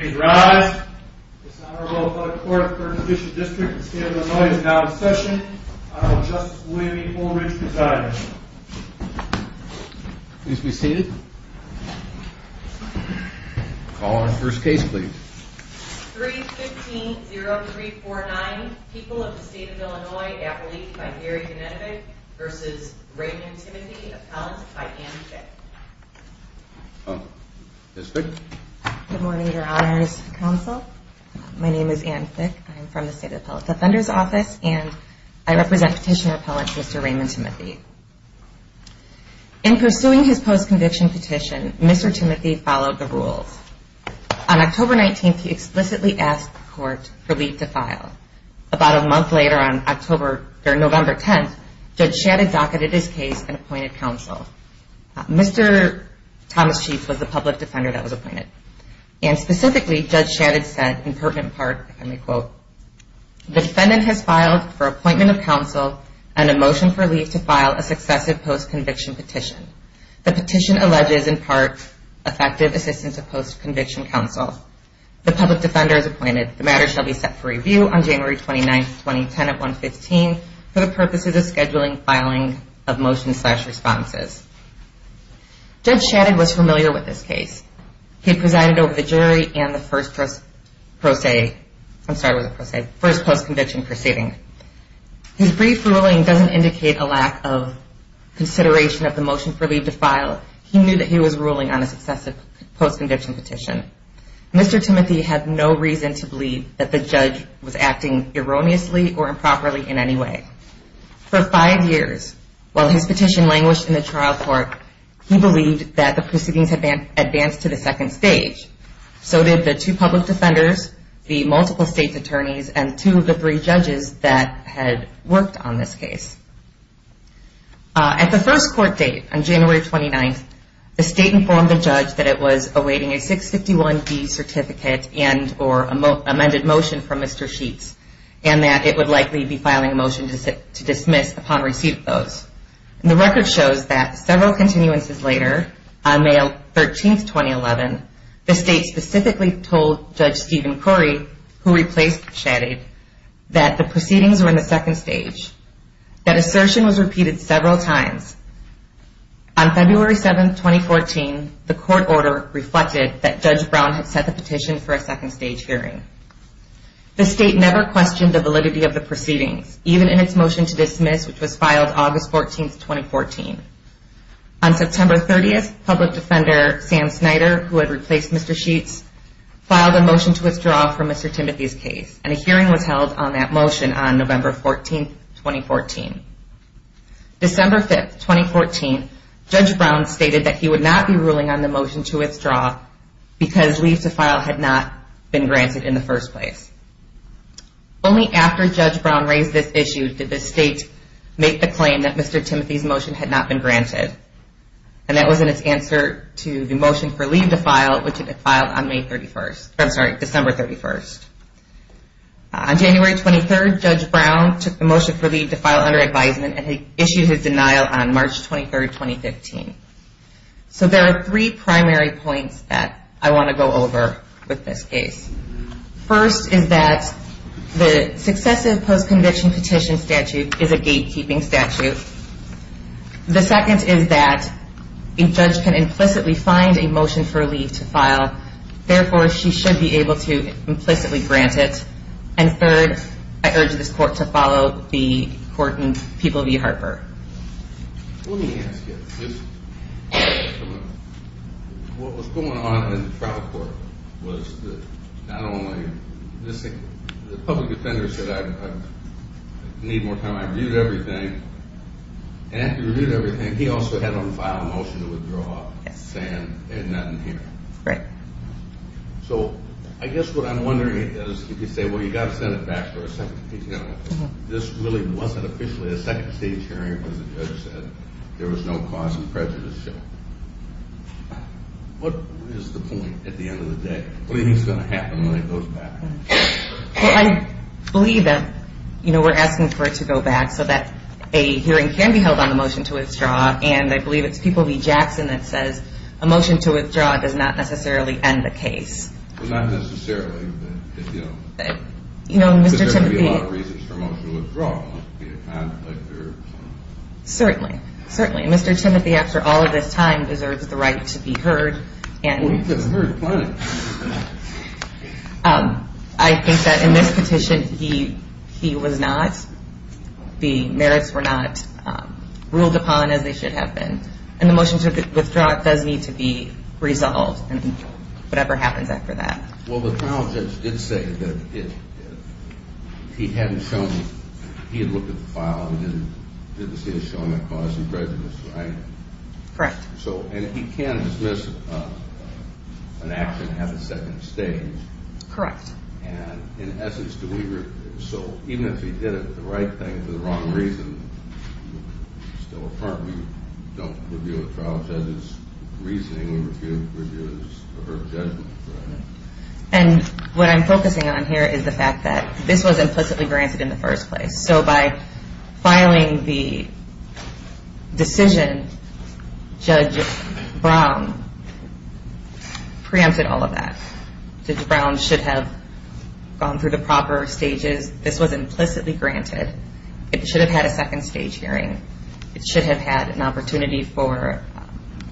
rise. This honorable court of the first district of the state of Illinois is now in session. I will have Justice William E. Fullridge preside. Please be seated. Call on the first case please. 3-15-0349 People of the State of Illinois at Relief by Gary Genetovic v. Raymond Timothy, appellant by Ann Fick. Good morning, Your Honors Counsel. My name is Ann Fick. I am from the State Appellate Defender's Office and I represent Petitioner Appellant Mr. Raymond Timothy. In pursuing his post-conviction petition, Mr. Timothy followed the rules. On October 19th, he explicitly asked the court for leave to file. About a month later, on November 10th, Judge Shadid docketed his case and appointed counsel. Mr. Thomas Chiefs was the public defender that was appointed. Specifically, Judge Shadid said, in pertinent part, if I may quote, defendant has filed for appointment of counsel and a motion for leave to file a successive post-conviction petition. The petition alleges, in part, effective assistance of post-conviction counsel. The public defender is appointed. The matter shall be set for review on January 29th, 2010 at 115 for the purposes of scheduling filing of motions slash responses. Judge Shadid was familiar with this case. He presided over the jury and the first post-conviction proceeding. His brief ruling doesn't indicate a lack of consideration of the motion for leave to file. He knew that he was ruling on a successive post-conviction petition. Mr. Timothy had no reason to believe that the judge was acting erroneously or improperly in any way. For five years, while his petition languished in the trial court, he believed that the proceedings had advanced to the second stage. So did the two public defenders, the multiple state attorneys, and two of the three judges that had worked on this case. At the first court date on January 29th, the state informed the judge that it was awaiting a 651B certificate and or amended motion from Mr. Sheets and that it would likely be filing a motion to dismiss upon receipt of those. The record shows that several continuances later, on May 13th, 2011, the state specifically told Judge Stephen Curry, who replaced Shadid, that the proceedings were in the second stage. That assertion was repeated several times. On February 7th, 2014, the court order reflected that Judge Brown had set the petition for a second stage hearing. The state never questioned the validity of the proceedings, even in its motion to dismiss, which was filed August 14th, 2014. On September 30th, public defender Sam Snyder, who had replaced Mr. Sheets, filed a motion to withdraw from Mr. Timothy's case, and a hearing was held on that motion on November 14th, 2014. December 5th, 2014, Judge Brown stated that he would not be ruling on the motion to withdraw because leave to file had not been granted in the first place. Only after Judge Brown raised this issue did the state make the claim that Mr. Timothy's motion had not been granted. And that was in its answer to the motion for leave to file, which it had filed on May 31st, I'm sorry, December 31st. On January 23rd, Judge Brown took the motion for leave to file under advisement and issued his denial on March 23rd, 2015. So there are three primary points that I want to go over with this case. First is that the successive post-conviction petition statute is a gatekeeping statute. The second is that a judge can implicitly find a motion for leave to file. Therefore, she should be able to implicitly grant it. And third, I urge this court to follow the court in People v. Harper. Let me ask you this. What was going on in the trial court was that not only the public defender said I need more time, I reviewed everything. And after he reviewed everything, he also had him file a motion to withdraw saying they had nothing here. Right. So I guess what I'm wondering is if you say, well, you've got to send it back for a second. This really wasn't officially a second stage hearing because the judge said there was no cause of prejudice. What is the point at the end of the day? What do you think is going to happen when it goes back? Well, I believe that, you know, we're asking for it to go back so that a hearing can be held on the motion to withdraw. And I believe it's People v. Jackson that says a motion to withdraw does not necessarily end the case. Well, not necessarily. But there would be a lot of reasons for a motion to withdraw. Certainly. Certainly. Mr. Timothy, after all of this time, deserves the right to be heard. Well, he deserves plenty. I think that in this petition, he was not, the merits were not ruled upon as they should have been. And the motion to withdraw does need to be resolved and whatever happens after that. Well, the trial judge did say that he hadn't shown, he had looked at the file and didn't see it showing a cause of prejudice, right? Correct. So, and he can dismiss an action and have a second stage. Correct. And in essence, do we, so even if he did it, the right thing for the wrong reason, still a part. We don't review a trial judge's reasoning. And what I'm focusing on here is the fact that this was implicitly granted in the first place. So by filing the decision, Judge Brown preempted all of that. Judge Brown should have gone through the proper stages. This was implicitly granted. It should have had a second stage hearing. It should have had an opportunity for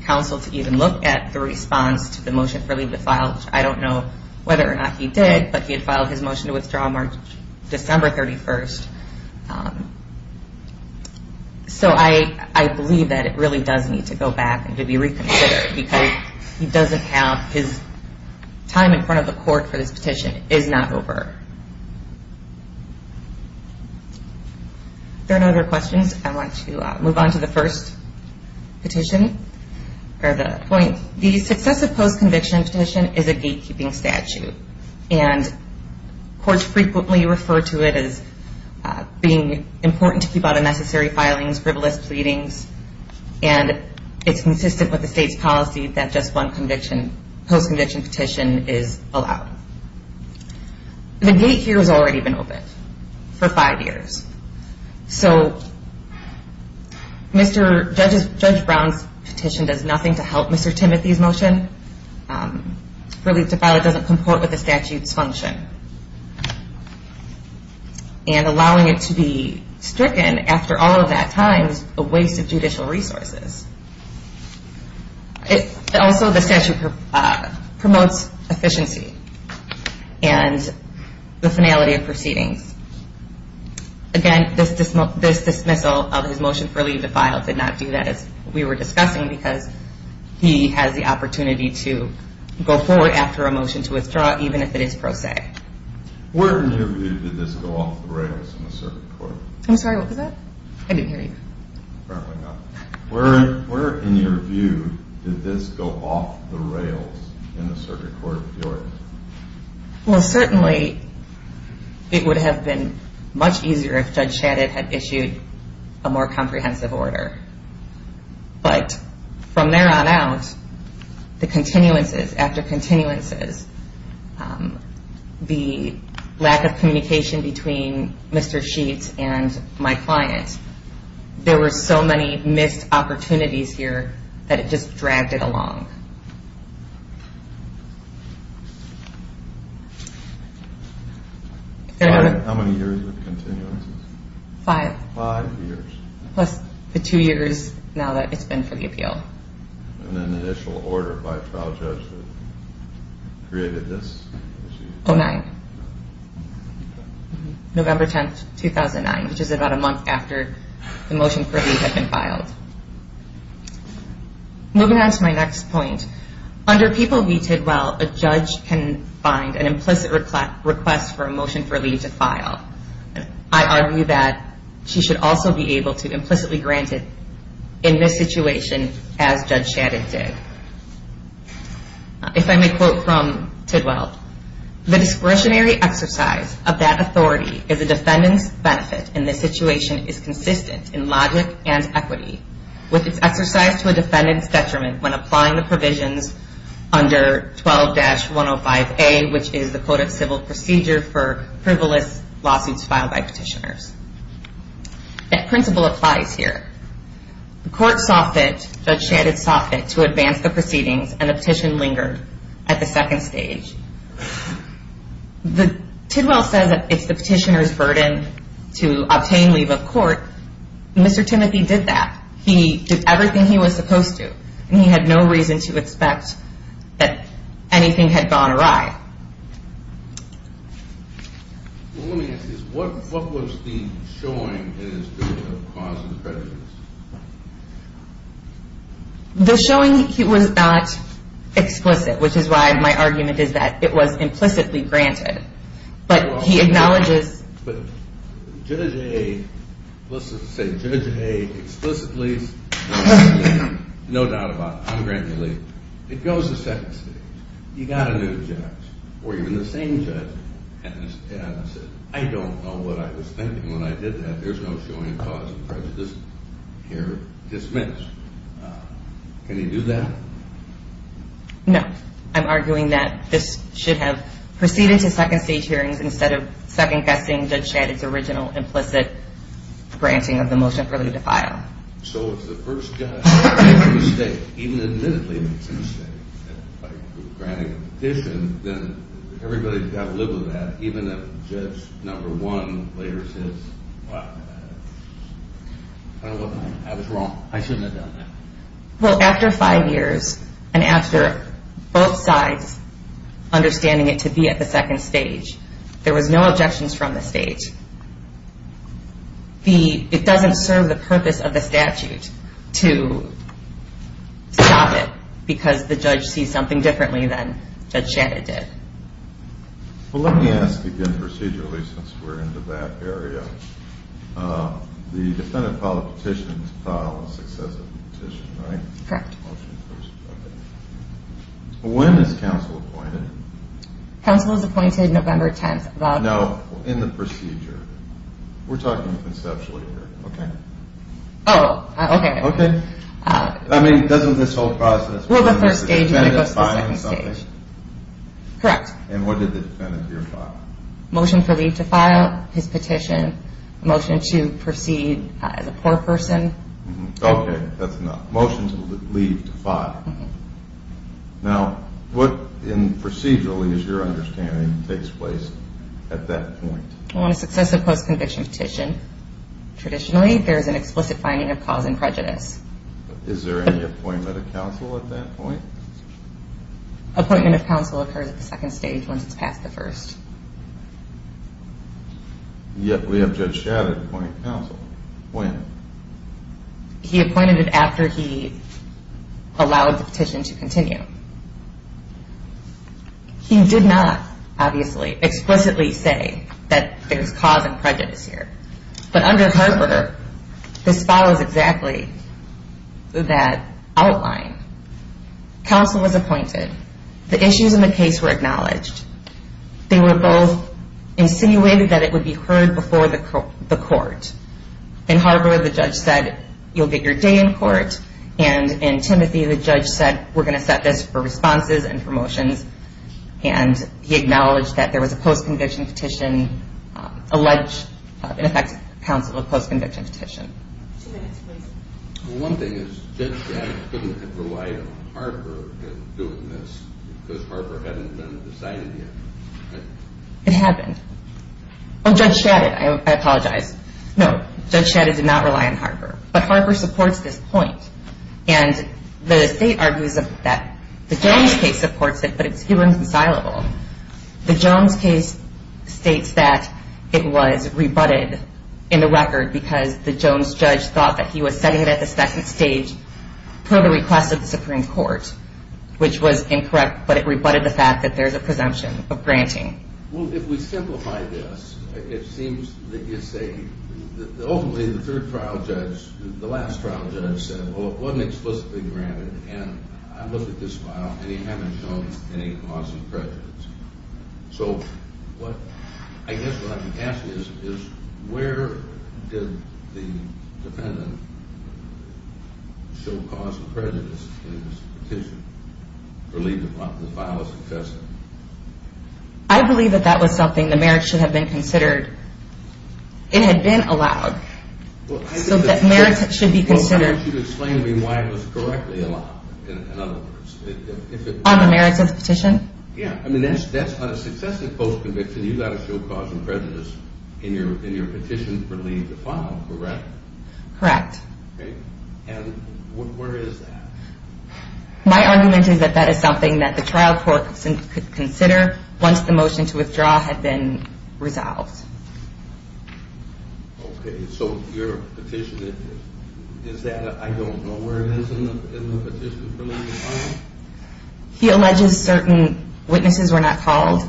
counsel to even look at the response to the motion for leave of the file. I don't know whether or not he did, but he had filed his motion to withdraw March, December 31st. So I believe that it really does need to go back and to be reconsidered because he doesn't have his time in front of the court for this petition. It is not over. If there are no other questions, I want to move on to the first petition, or the point. The successive post-conviction petition is a gatekeeping statute. And courts frequently refer to it as being important to keep out unnecessary filings, frivolous pleadings. And it's consistent with the state's policy that just one post-conviction petition is allowed. The gate here has already been opened for five years. So Judge Brown's petition does nothing to help Mr. Timothy's motion. Relief to file it doesn't comport with the statute's function. And allowing it to be stricken after all of that time is a waste of judicial resources. Also, the statute promotes efficiency and the finality of proceedings. Again, this dismissal of his motion for relief to file did not do that as we were discussing because he has the opportunity to go forward after a motion to withdraw, even if it is pro se. Where in your view did this go off the rails in the circuit court? I'm sorry, what was that? I didn't hear you. Where in your view did this go off the rails in the circuit court? Well, certainly it would have been much easier if Judge Shadid had issued a more comprehensive order. But from there on out, the continuances after continuances, the lack of communication between Mr. Sheets and my client, there were so many missed opportunities here that it just dragged it along. How many years with continuances? Five. Five years. Plus the two years now that it's been for the appeal. And then the initial order by a trial judge that created this? 2009. November 10, 2009, which is about a month after the motion for relief had been filed. Moving on to my next point, under People v. Tidwell, a judge can find an implicit request for a motion for relief to file. I argue that she should also be able to implicitly grant it in this situation as Judge Shadid did. If I may quote from Tidwell, the discretionary exercise of that authority is a defendant's benefit and this situation is consistent in logic and equity with its exercise to a defendant's detriment when applying the provisions under 12-105A, which is the Code of Civil Procedure for frivolous lawsuits filed by petitioners. That principle applies here. The court saw fit, Judge Shadid saw fit, to advance the proceedings and the petition lingered at the second stage. Tidwell says that it's the petitioner's burden to obtain leave of court. Mr. Timothy did that. He did everything he was supposed to and he had no reason to expect that anything had gone awry. Well, let me ask you this. What was the showing in this case of cause and prejudice? The showing was not explicit, which is why my argument is that it was implicitly granted, but he acknowledges... But Judge A, let's just say Judge A explicitly, no doubt about it, ungranted leave, it goes to second stage. He got a new judge, or even the same judge, and said, I don't know what I was thinking when I did that. There's no showing in cause and prejudice here. Dismissed. Can he do that? No. I'm arguing that this should have proceeded to second stage hearings instead of second-guessing Judge Shadid's original implicit granting of the motion for leave to file. So if the first judge makes a mistake, even admittedly makes a mistake, like granting a petition, then everybody's got to live with that, even if Judge number one later says, wow, I don't know what I'm... I was wrong. I shouldn't have done that. Well, after five years, and after both sides understanding it to be at the second stage, there was no objections from the stage. It doesn't serve the purpose of the statute to stop it because the judge sees something differently than Judge Shadid did. Well, let me ask again procedurally since we're into that area. The defendant filed a petition to file a successive petition, right? Correct. When is counsel appointed? Counsel is appointed November 10th. Now, in the procedure, we're talking conceptually here, okay? Oh, okay. Okay? I mean, doesn't this whole process... Well, the first stage is when it goes to the second stage. Correct. And what did the defendant here file? Motion for leave to file his petition, motion to proceed as a poor person. Okay, that's enough. Motion to leave to file. Now, what procedurally, as your understanding, takes place at that point? On a successive post-conviction petition, traditionally there is an explicit finding of cause and prejudice. Is there any appointment of counsel at that point? Appointment of counsel occurs at the second stage once it's past the first. Yet we have Judge Shadid appointing counsel. When? He appointed it after he allowed the petition to continue. He did not, obviously, explicitly say that there's cause and prejudice here. But under Harper, this follows exactly that outline. Counsel was appointed. The issues in the case were acknowledged. They were both insinuated that it would be heard before the court. In Harper, the judge said, you'll get your day in court. And in Timothy, the judge said, we're going to set this for responses and promotions. And he acknowledged that there was a post-conviction petition, alleged, in effect, counsel of post-conviction petition. Two minutes, please. Well, one thing is Judge Shadid couldn't have relied on Harper in doing this because Harper hadn't been decided yet, right? It hadn't. Oh, Judge Shadid, I apologize. No, Judge Shadid did not rely on Harper. But Harper supports this point. And the state argues that the Jones case supports it, but it's humanly inconsolable. The Jones case states that it was rebutted in the record because the Jones judge thought that he was setting it at the second stage per the request of the Supreme Court, which was incorrect, but it rebutted the fact that there's a presumption of granting. Well, if we simplify this, it seems that it's a – ultimately, the third trial judge, the last trial judge said, well, it wasn't explicitly granted, and I looked at this file, and he hadn't shown any cause of prejudice. So what I guess what I'm asking is, where did the defendant show cause of prejudice in this petition or leave the file as a testament? I believe that that was something the merits should have been considered. It had been allowed. So that merits should be considered. Well, why don't you explain to me why it was correctly allowed, in other words? On the merits of the petition? Yeah, I mean, that's a successive post-conviction. You got to show cause of prejudice in your petition for leaving the file, correct? Correct. And where is that? My argument is that that is something that the trial court could consider once the motion to withdraw had been resolved. Okay, so your petition, is that – I don't know where it is in the petition for leaving the file. He alleges certain witnesses were not called.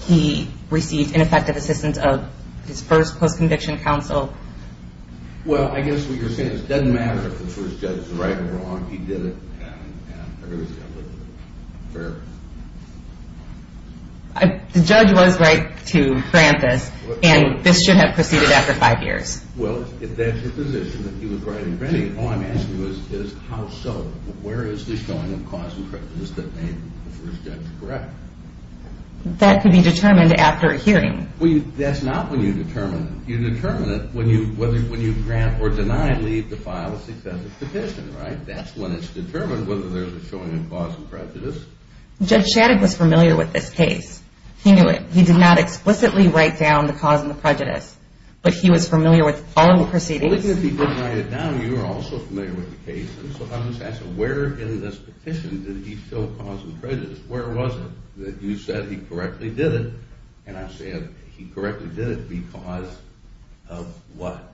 He received ineffective assistance of his first post-conviction counsel. Well, I guess what you're saying is it doesn't matter if the first judge is right or wrong. He did it, and everybody's got a little bit of fair. The judge was right to grant this, and this should have proceeded after five years. Well, if that's your position, that he was right in granting it, all I'm asking is how so? Where is this showing of cause of prejudice that made the first judge correct? That could be determined after a hearing. Well, that's not when you determine it. You determine it when you grant or deny leave to file a successive petition, right? That's when it's determined whether there's a showing of cause of prejudice. Judge Shadig was familiar with this case. He knew it. He did not explicitly write down the cause of the prejudice, but he was familiar with the following proceedings. Well, even if he didn't write it down, you were also familiar with the case. And so I'm just asking, where in this petition did he show cause of prejudice? Where was it that you said he correctly did it? And I said he correctly did it because of what?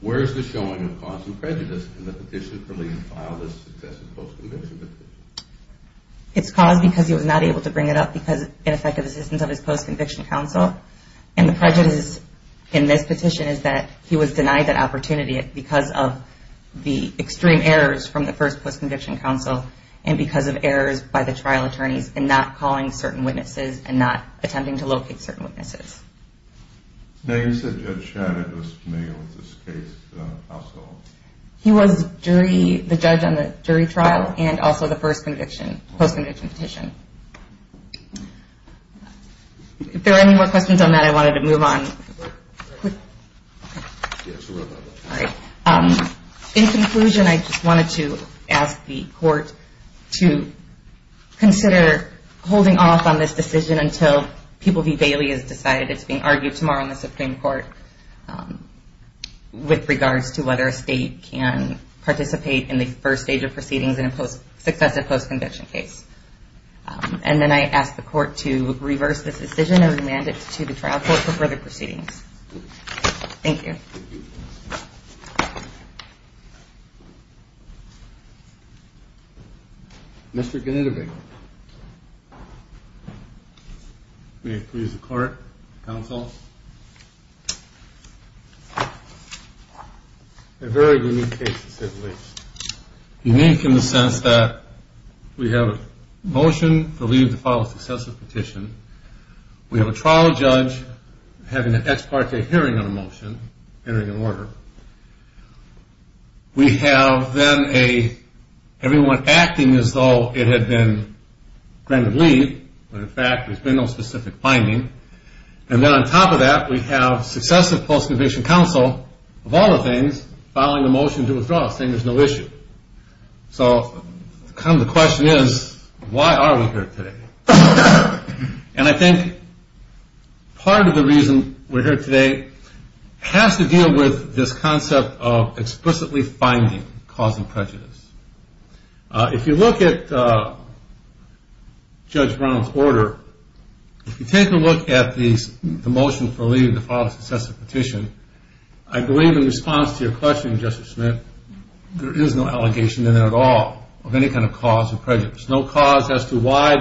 Where is the showing of cause of prejudice in the petition for leave to file this successive post-conviction petition? It's cause because he was not able to bring it up because of ineffective assistance of his post-conviction counsel. And the prejudice in this petition is that he was denied that opportunity because of the extreme errors from the first post-conviction counsel and because of errors by the trial attorneys in not calling certain witnesses and not attempting to locate certain witnesses. Now, you said Judge Shadig was familiar with this case also. He was the judge on the jury trial and also the first post-conviction petition. If there are any more questions on that, I wanted to move on. In conclusion, I just wanted to ask the court to consider holding off on this decision until People v. Bailey has decided it's being argued tomorrow in the Supreme Court with regards to whether a state can participate in the first stage of proceedings in a successive post-conviction case. And then I ask the court to reverse this decision and remand it to the trial court for further proceedings. Thank you. Mr. Ganitobe. May it please the court, counsel. A very unique case, to say the least. Unique in the sense that we have a motion to leave the file of successive petition. We have a trial judge having an ex parte hearing on a motion, entering an order. We have then everyone acting as though it had been granted leave, when in fact there's been no specific finding. And then on top of that, we have successive post-conviction counsel, of all the things, filing a motion to withdraw, saying there's no issue. So the question is, why are we here today? And I think part of the reason we're here today has to deal with this concept of explicitly finding cause and prejudice. If you look at Judge Brown's order, if you take a look at the motion for leaving the file of successive petition, I believe in response to your question, Justice Smith, there is no allegation in there at all of any kind of cause or prejudice. There's no cause as to why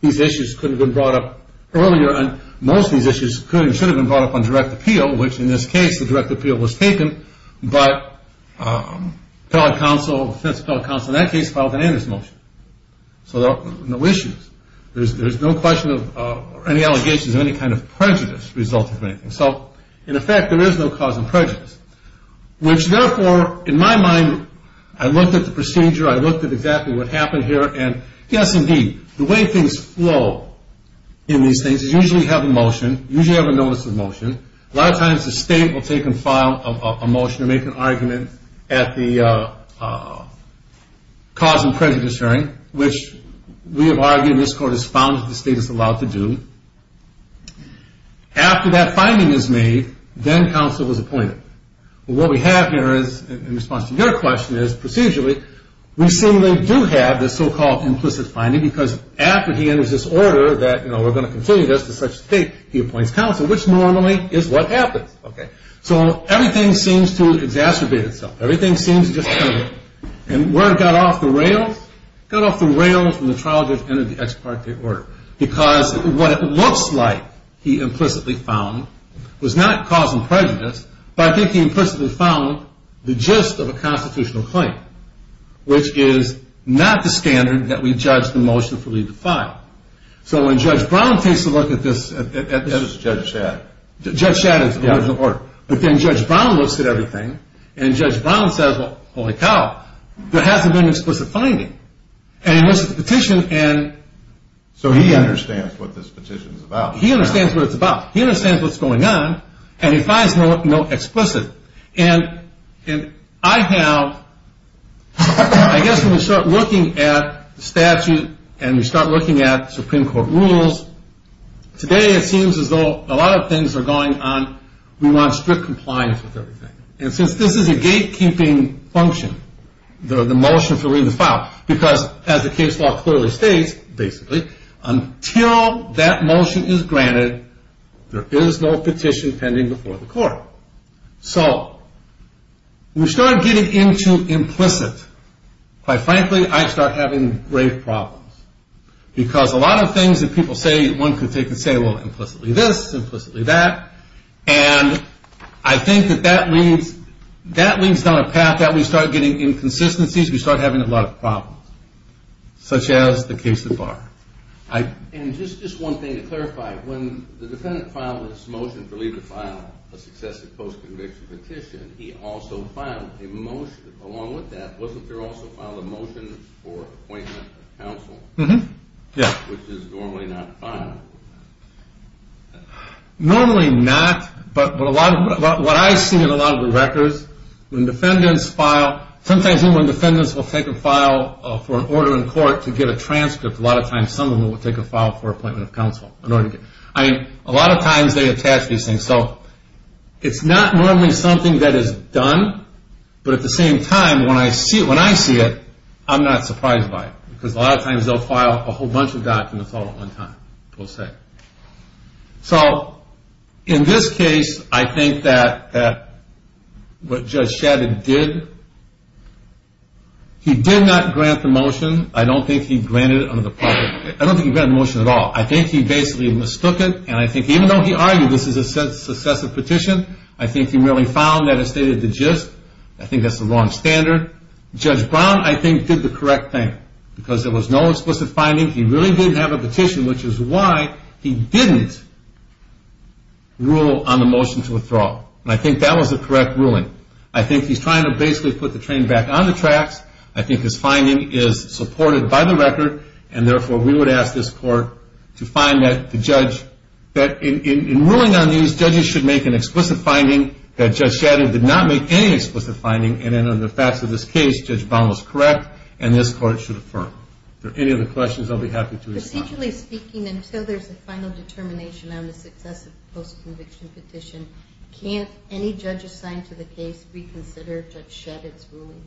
these issues couldn't have been brought up earlier, and most of these issues should have been brought up on direct appeal, which in this case, the direct appeal was taken, but fence appellate counsel in that case filed an amnesty motion. So there are no issues. There's no question of any allegations of any kind of prejudice resulting from anything. So in effect, there is no cause of prejudice, which therefore, in my mind, I looked at the procedure, I looked at exactly what happened here, and yes, indeed, the way things flow in these things is usually you have a motion, usually you have a notice of motion. A lot of times the state will take and file a motion or make an argument at the cause and prejudice hearing, which we have argued in this court is found that the state is allowed to do. After that finding is made, then counsel is appointed. What we have here in response to your question is procedurally, we seemingly do have this so-called implicit finding because after he enters this order that we're going to continue this to such a state, he appoints counsel, which normally is what happens. So everything seems to exacerbate itself. Everything seems to just kind of, and where it got off the rails? It got off the rails when the trial judge entered the ex parte order because what it looks like, he implicitly found, was not cause and prejudice, but I think he implicitly found the gist of a constitutional claim, which is not the standard that we judge the motion for leave to file. So when Judge Brown takes a look at this. That is Judge Shad. Judge Shad is the original court. But then Judge Brown looks at everything, and Judge Brown says, well, holy cow, there hasn't been an explicit finding. And he looks at the petition. So he understands what this petition is about. He understands what it's about. He understands what's going on, and he finds no explicit. And I have, I guess when we start looking at statute and we start looking at Supreme Court rules, today it seems as though a lot of things are going on. We want strict compliance with everything. And since this is a gatekeeping function, the motion for leave to file, because as the case law clearly states, basically, until that motion is granted, there is no petition pending before the court. So we start getting into implicit. Quite frankly, I start having grave problems. Because a lot of things that people say, one could take and say, well, implicitly this, implicitly that. And I think that that leads down a path that we start getting inconsistencies. We start having a lot of problems, such as the case of Barr. And just one thing to clarify. When the defendant filed this motion for leave to file a successive post-conviction petition, he also filed a motion along with that. Wasn't there also filed a motion for appointment of counsel? Yeah. Which is normally not filed. Normally not, but what I've seen in a lot of the records, when defendants file, sometimes when defendants will take a file for an order in court to get a transcript, a lot of times someone will take a file for appointment of counsel. I mean, a lot of times they attach these things. So it's not normally something that is done. But at the same time, when I see it, I'm not surprised by it. Because a lot of times they'll file a whole bunch of documents all at one time, per se. So in this case, I think that what Judge Shadid did, he did not grant the motion. I don't think he granted it under the public. I don't think he granted the motion at all. I think he basically mistook it. And I think even though he argued this is a successive petition, I think he really found that it stated the gist. I think that's the wrong standard. Judge Brown, I think, did the correct thing. Because there was no explicit finding. He really did have a petition, which is why he didn't rule on the motion to withdraw. And I think that was the correct ruling. I think he's trying to basically put the train back on the tracks. I think his finding is supported by the record. And therefore, we would ask this court to find that the judge, that in ruling on these, judges should make an explicit finding. That Judge Shadid did not make any explicit finding. And in the facts of this case, Judge Brown was correct. And this court should affirm. If there are any other questions, I'll be happy to respond. Procedurally speaking, until there's a final determination on the successive post-conviction petition, can't any judge assigned to the case reconsider Judge Shadid's ruling?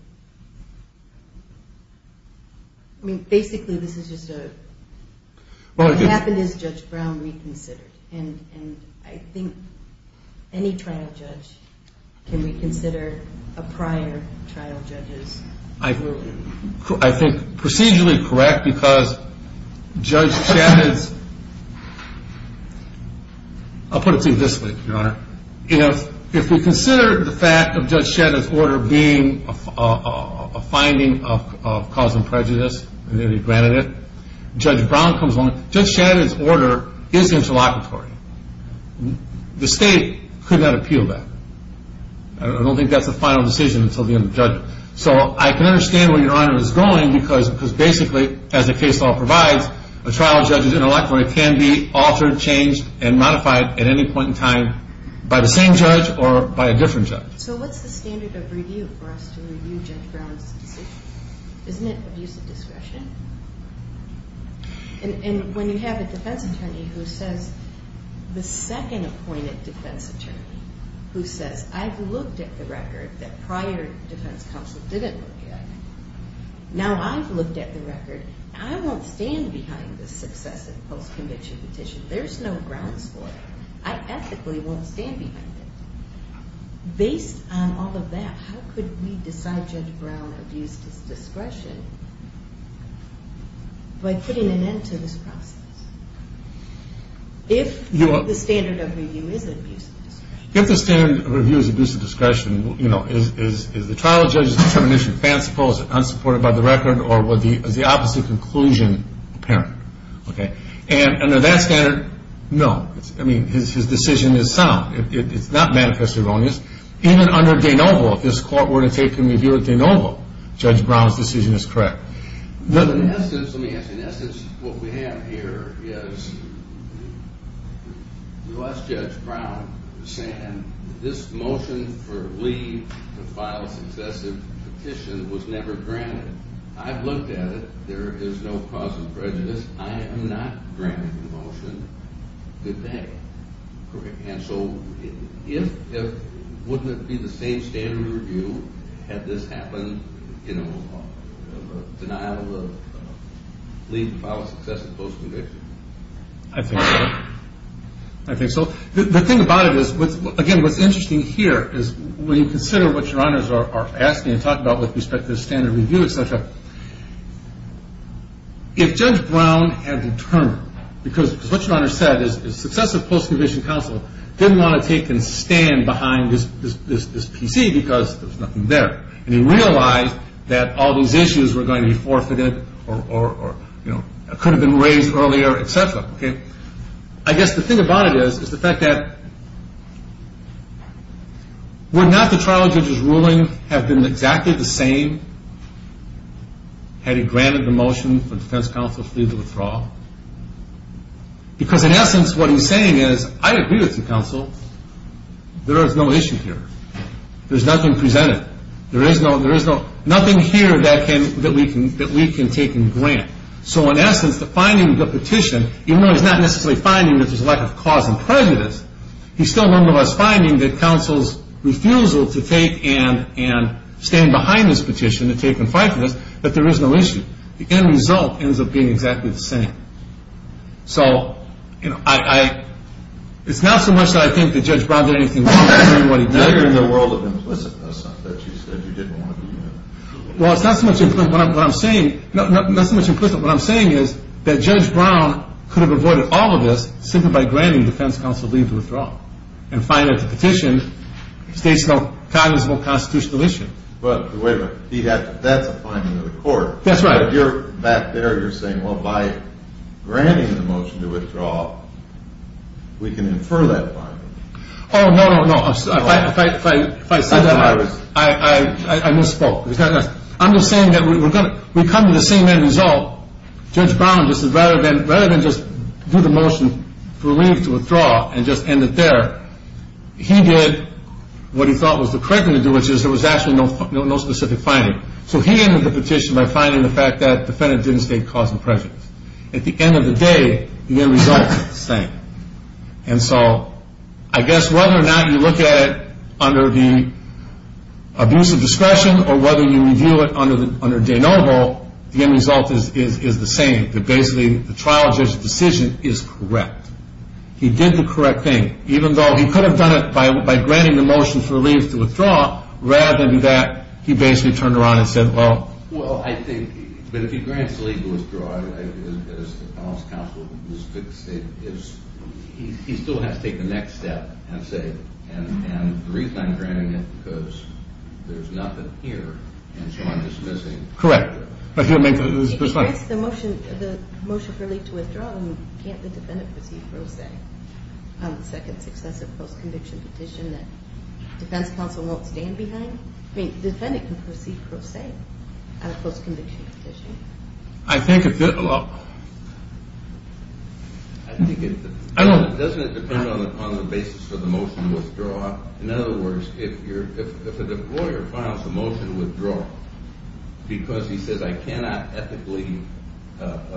I mean, basically this is just a, what happened is Judge Brown reconsidered. And I think any trial judge can reconsider a prior trial judge's ruling. I think procedurally correct, because Judge Shadid's, I'll put it to you this way, Your Honor. If we consider the fact of Judge Shadid's order being a finding of cause and prejudice, and that he granted it, Judge Brown comes along. Judge Shadid's order is interlocutory. The state could not appeal that. I don't think that's a final decision until the end of judgment. So I can understand where Your Honor is going, because basically, as the case law provides, a trial judge's interlocutory can be altered, changed, and modified at any point in time by the same judge or by a different judge. So what's the standard of review for us to review Judge Brown's decision? Isn't it abuse of discretion? And when you have a defense attorney who says, the second appointed defense attorney, who says, I've looked at the record that prior defense counsel didn't look at. Now I've looked at the record. I won't stand behind this successive post-conviction petition. There's no grounds for it. I ethically won't stand behind it. Based on all of that, how could we decide Judge Brown abused his discretion by putting an end to this process? If the standard of review is abuse of discretion. If the standard of review is abuse of discretion, is the trial judge's determination fanciful, is it unsupported by the record, or is the opposite conclusion apparent? And under that standard, no. I mean, his decision is sound. It's not manifest erroneous. Even under De Novo, if this court were to take a review of De Novo, Judge Brown's decision is correct. But in essence, let me ask you, in essence, what we have here is the last Judge Brown was saying this motion for leave to file a successive petition was never granted. I've looked at it. There is no cause of prejudice. I am not granting the motion. Good day. And so wouldn't it be the same standard of review had this happened in a denial of leave to file a successive post-conviction? I think so. I think so. The thing about it is, again, what's interesting here is when you consider what Your Honors are asking and talking about with respect to the standard of review, et cetera, if Judge Brown had determined, because what Your Honors said is successive post-conviction counsel didn't want to take and stand behind this PC because there was nothing there. And he realized that all these issues were going to be forfeited or could have been raised earlier, et cetera. I guess the thing about it is the fact that would not the trial judge's ruling have been exactly the same had he granted the motion for defense counsel's leave to withdraw? Because, in essence, what he's saying is, I agree with you, counsel. There is no issue here. There's nothing presented. There is nothing here that we can take and grant. So, in essence, the finding of the petition, even though he's not necessarily finding that there's a lack of cause and prejudice, he's still, nonetheless, finding that counsel's refusal to take and stand behind this petition to take and fight for this, that there is no issue. The end result ends up being exactly the same. So, you know, it's not so much that I think that Judge Brown did anything wrong. It's really what he did. But you're in the world of implicitness that you said you didn't want to be in. Well, it's not so much implicit. What I'm saying, not so much implicit. What I'm saying is that Judge Brown could have avoided all of this simply by granting defense counsel leave to withdraw and find that the petition states no cognizant constitutional issue. Well, wait a minute. That's a finding of the court. That's right. But you're back there. You're saying, well, by granting the motion to withdraw, we can infer that finding. Oh, no, no, no. If I said that, I misspoke. I'm just saying that we come to the same end result. Judge Brown, rather than just do the motion for leave to withdraw and just end it there, he did what he thought was the correct thing to do, which is there was actually no specific finding. So he ended the petition by finding the fact that the defendant didn't state cause and prejudice. At the end of the day, the end result is the same. And so I guess whether or not you look at it under the abuse of discretion or whether you review it under de novo, the end result is the same, that basically the trial judge's decision is correct. He did the correct thing, even though he could have done it by granting the motion for leave to withdraw, rather than that he basically turned around and said, well. Well, I think, but if he grants the leave to withdraw, as the counsel has stated, he still has to take the next step and say, and the reason I'm granting it is because there's nothing here, and so I'm dismissing. Correct. If he grants the motion for leave to withdraw, can't the defendant proceed pro se on the second successive post-conviction petition that defense counsel won't stand behind? I mean, the defendant can proceed pro se on a post-conviction petition. I think it depends on the basis of the motion to withdraw. In other words, if a lawyer files a motion to withdraw because he says, I cannot ethically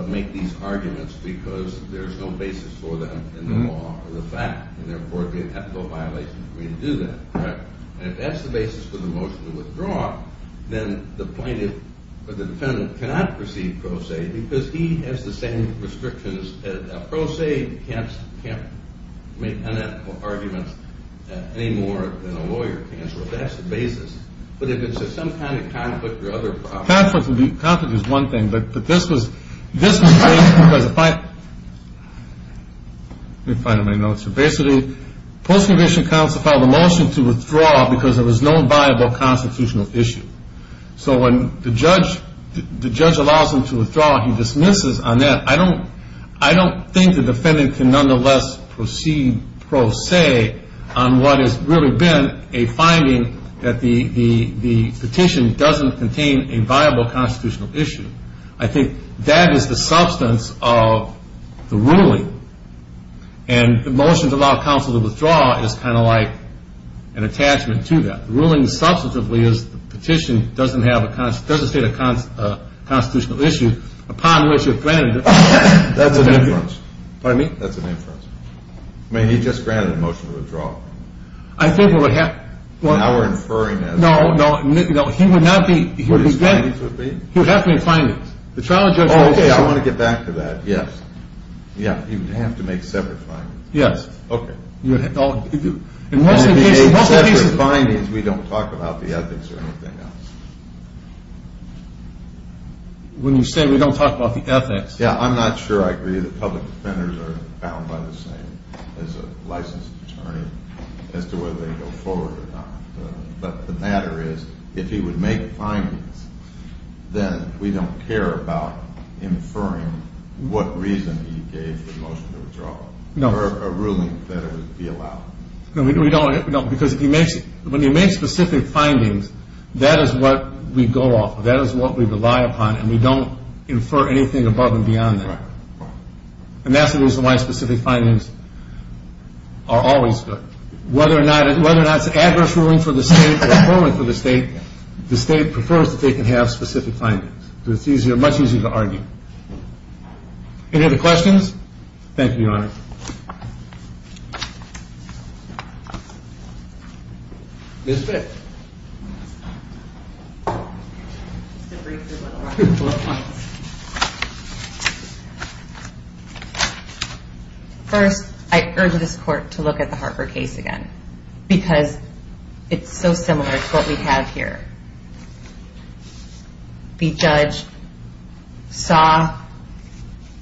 make these arguments because there's no basis for them in the law or the fact, and therefore it's an ethical violation for me to do that. And if that's the basis for the motion to withdraw, then the plaintiff or the defendant cannot proceed pro se because he has the same restrictions. Pro se can't make unethical arguments any more than a lawyer can, so that's the basis. But if it's just some kind of conflict or other problem. Conflict is one thing, but this was based because if I – let me find my notes. So basically, post-conviction counsel filed a motion to withdraw because there was no viable constitutional issue. So when the judge allows him to withdraw, he dismisses on that. I don't think the defendant can nonetheless proceed pro se on what has really been a finding that the petition doesn't contain a viable constitutional issue. I think that is the substance of the ruling. And the motion to allow counsel to withdraw is kind of like an attachment to that. The ruling substantively is the petition doesn't state a constitutional issue upon which a defendant – That's an inference. Pardon me? That's an inference. I mean, he just granted a motion to withdraw. I think what would happen – Now we're inferring that. No, no. He would not be – What his findings would be? He would have to make findings. The trial judge – Oh, okay. I want to get back to that. Yes. Yeah. He would have to make separate findings. Yes. Okay. In most cases – When I say separate findings, we don't talk about the ethics or anything else. When you say we don't talk about the ethics – Yeah, I'm not sure I agree that public defenders are bound by the same as a licensed attorney as to whether they go forward or not. But the matter is, if he would make findings, then we don't care about inferring what reason he gave the motion to withdraw. No. Or a ruling that would be allowed. No, we don't. Because if he makes – When he makes specific findings, that is what we go off. That is what we rely upon, and we don't infer anything above and beyond that. Right. And that's the reason why specific findings are always good. Whether or not it's an adverse ruling for the state or a poor one for the state, the state prefers that they can have specific findings. So it's easier – much easier to argue. Any other questions? Thank you, Your Honor. Ms. Bick. First, I urge this Court to look at the Harper case again, because it's so similar to what we have here. The judge saw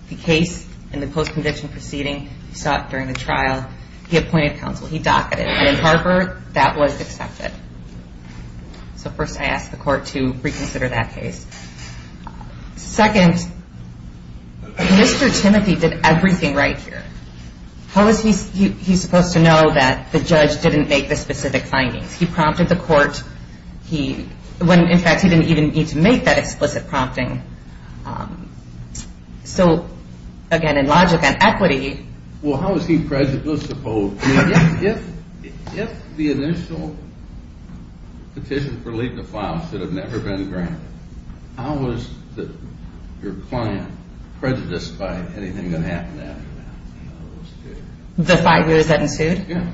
the case in the post-conviction proceeding. He saw it during the trial. He appointed counsel. He docketed. And in Harper, that was accepted. So first, I ask the Court to reconsider that case. Second, Mr. Timothy did everything right here. How is he supposed to know that the judge didn't make the specific findings? He prompted the Court when, in fact, he didn't even need to make that explicit prompting. So, again, in logic and equity – Well, how is he prejudiced? I mean, if the initial petition for leaving the file should have never been granted, how is your client prejudiced by anything that happened after that? The five years that ensued? Yeah.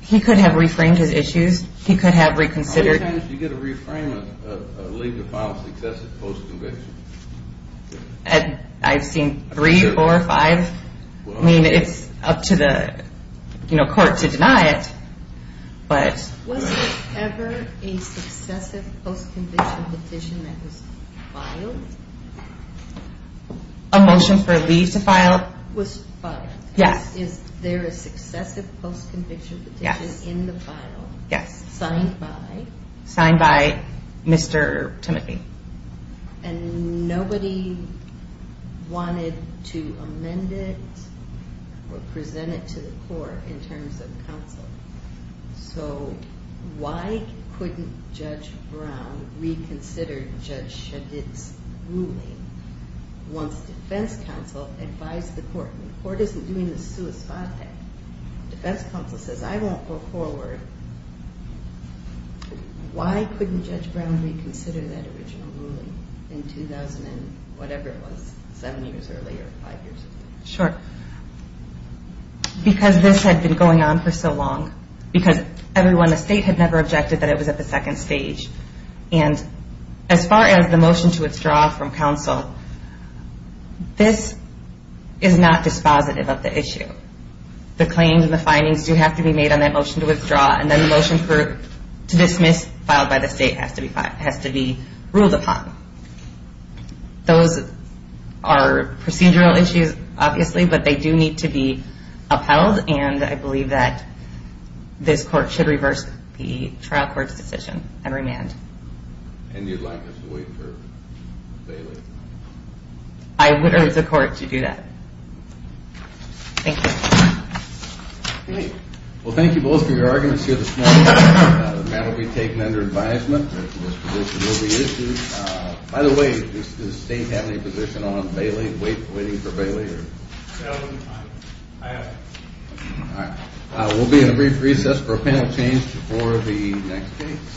He could have reframed his issues. He could have reconsidered – How many times do you get a reframe of a leave to file a successive post-conviction? I've seen three, four, five. I mean, it's up to the Court to deny it, but – Was there ever a successive post-conviction petition that was filed? A motion for a leave to file? Was filed. Yes. Is there a successive post-conviction petition in the file? Yes. Signed by? Signed by Mr. Timothy. And nobody wanted to amend it or present it to the Court in terms of counsel. So why couldn't Judge Brown reconsider Judge Shadid's ruling once defense counsel advised the Court? The Court isn't doing the sua spate. Defense counsel says, I won't go forward. Why couldn't Judge Brown reconsider that original ruling in 2000 and whatever it was, seven years earlier, five years later? Sure. Because this had been going on for so long. Because everyone in the state had never objected that it was at the second stage. And as far as the motion to withdraw from counsel, this is not dispositive of the issue. The claims and the findings do have to be made on that motion to withdraw, and then the motion to dismiss filed by the state has to be ruled upon. Those are procedural issues, obviously, but they do need to be upheld, and I believe that this Court should reverse the trial court's decision and remand. And you'd like us to wait for Bailey? I would urge the Court to do that. Thank you. Great. Well, thank you both for your arguments here this morning. The matter will be taken under advisement. This position will be issued. By the way, does the state have any position on Bailey, waiting for Bailey? I have. All right. We'll be in a brief recess for a panel change before the next case.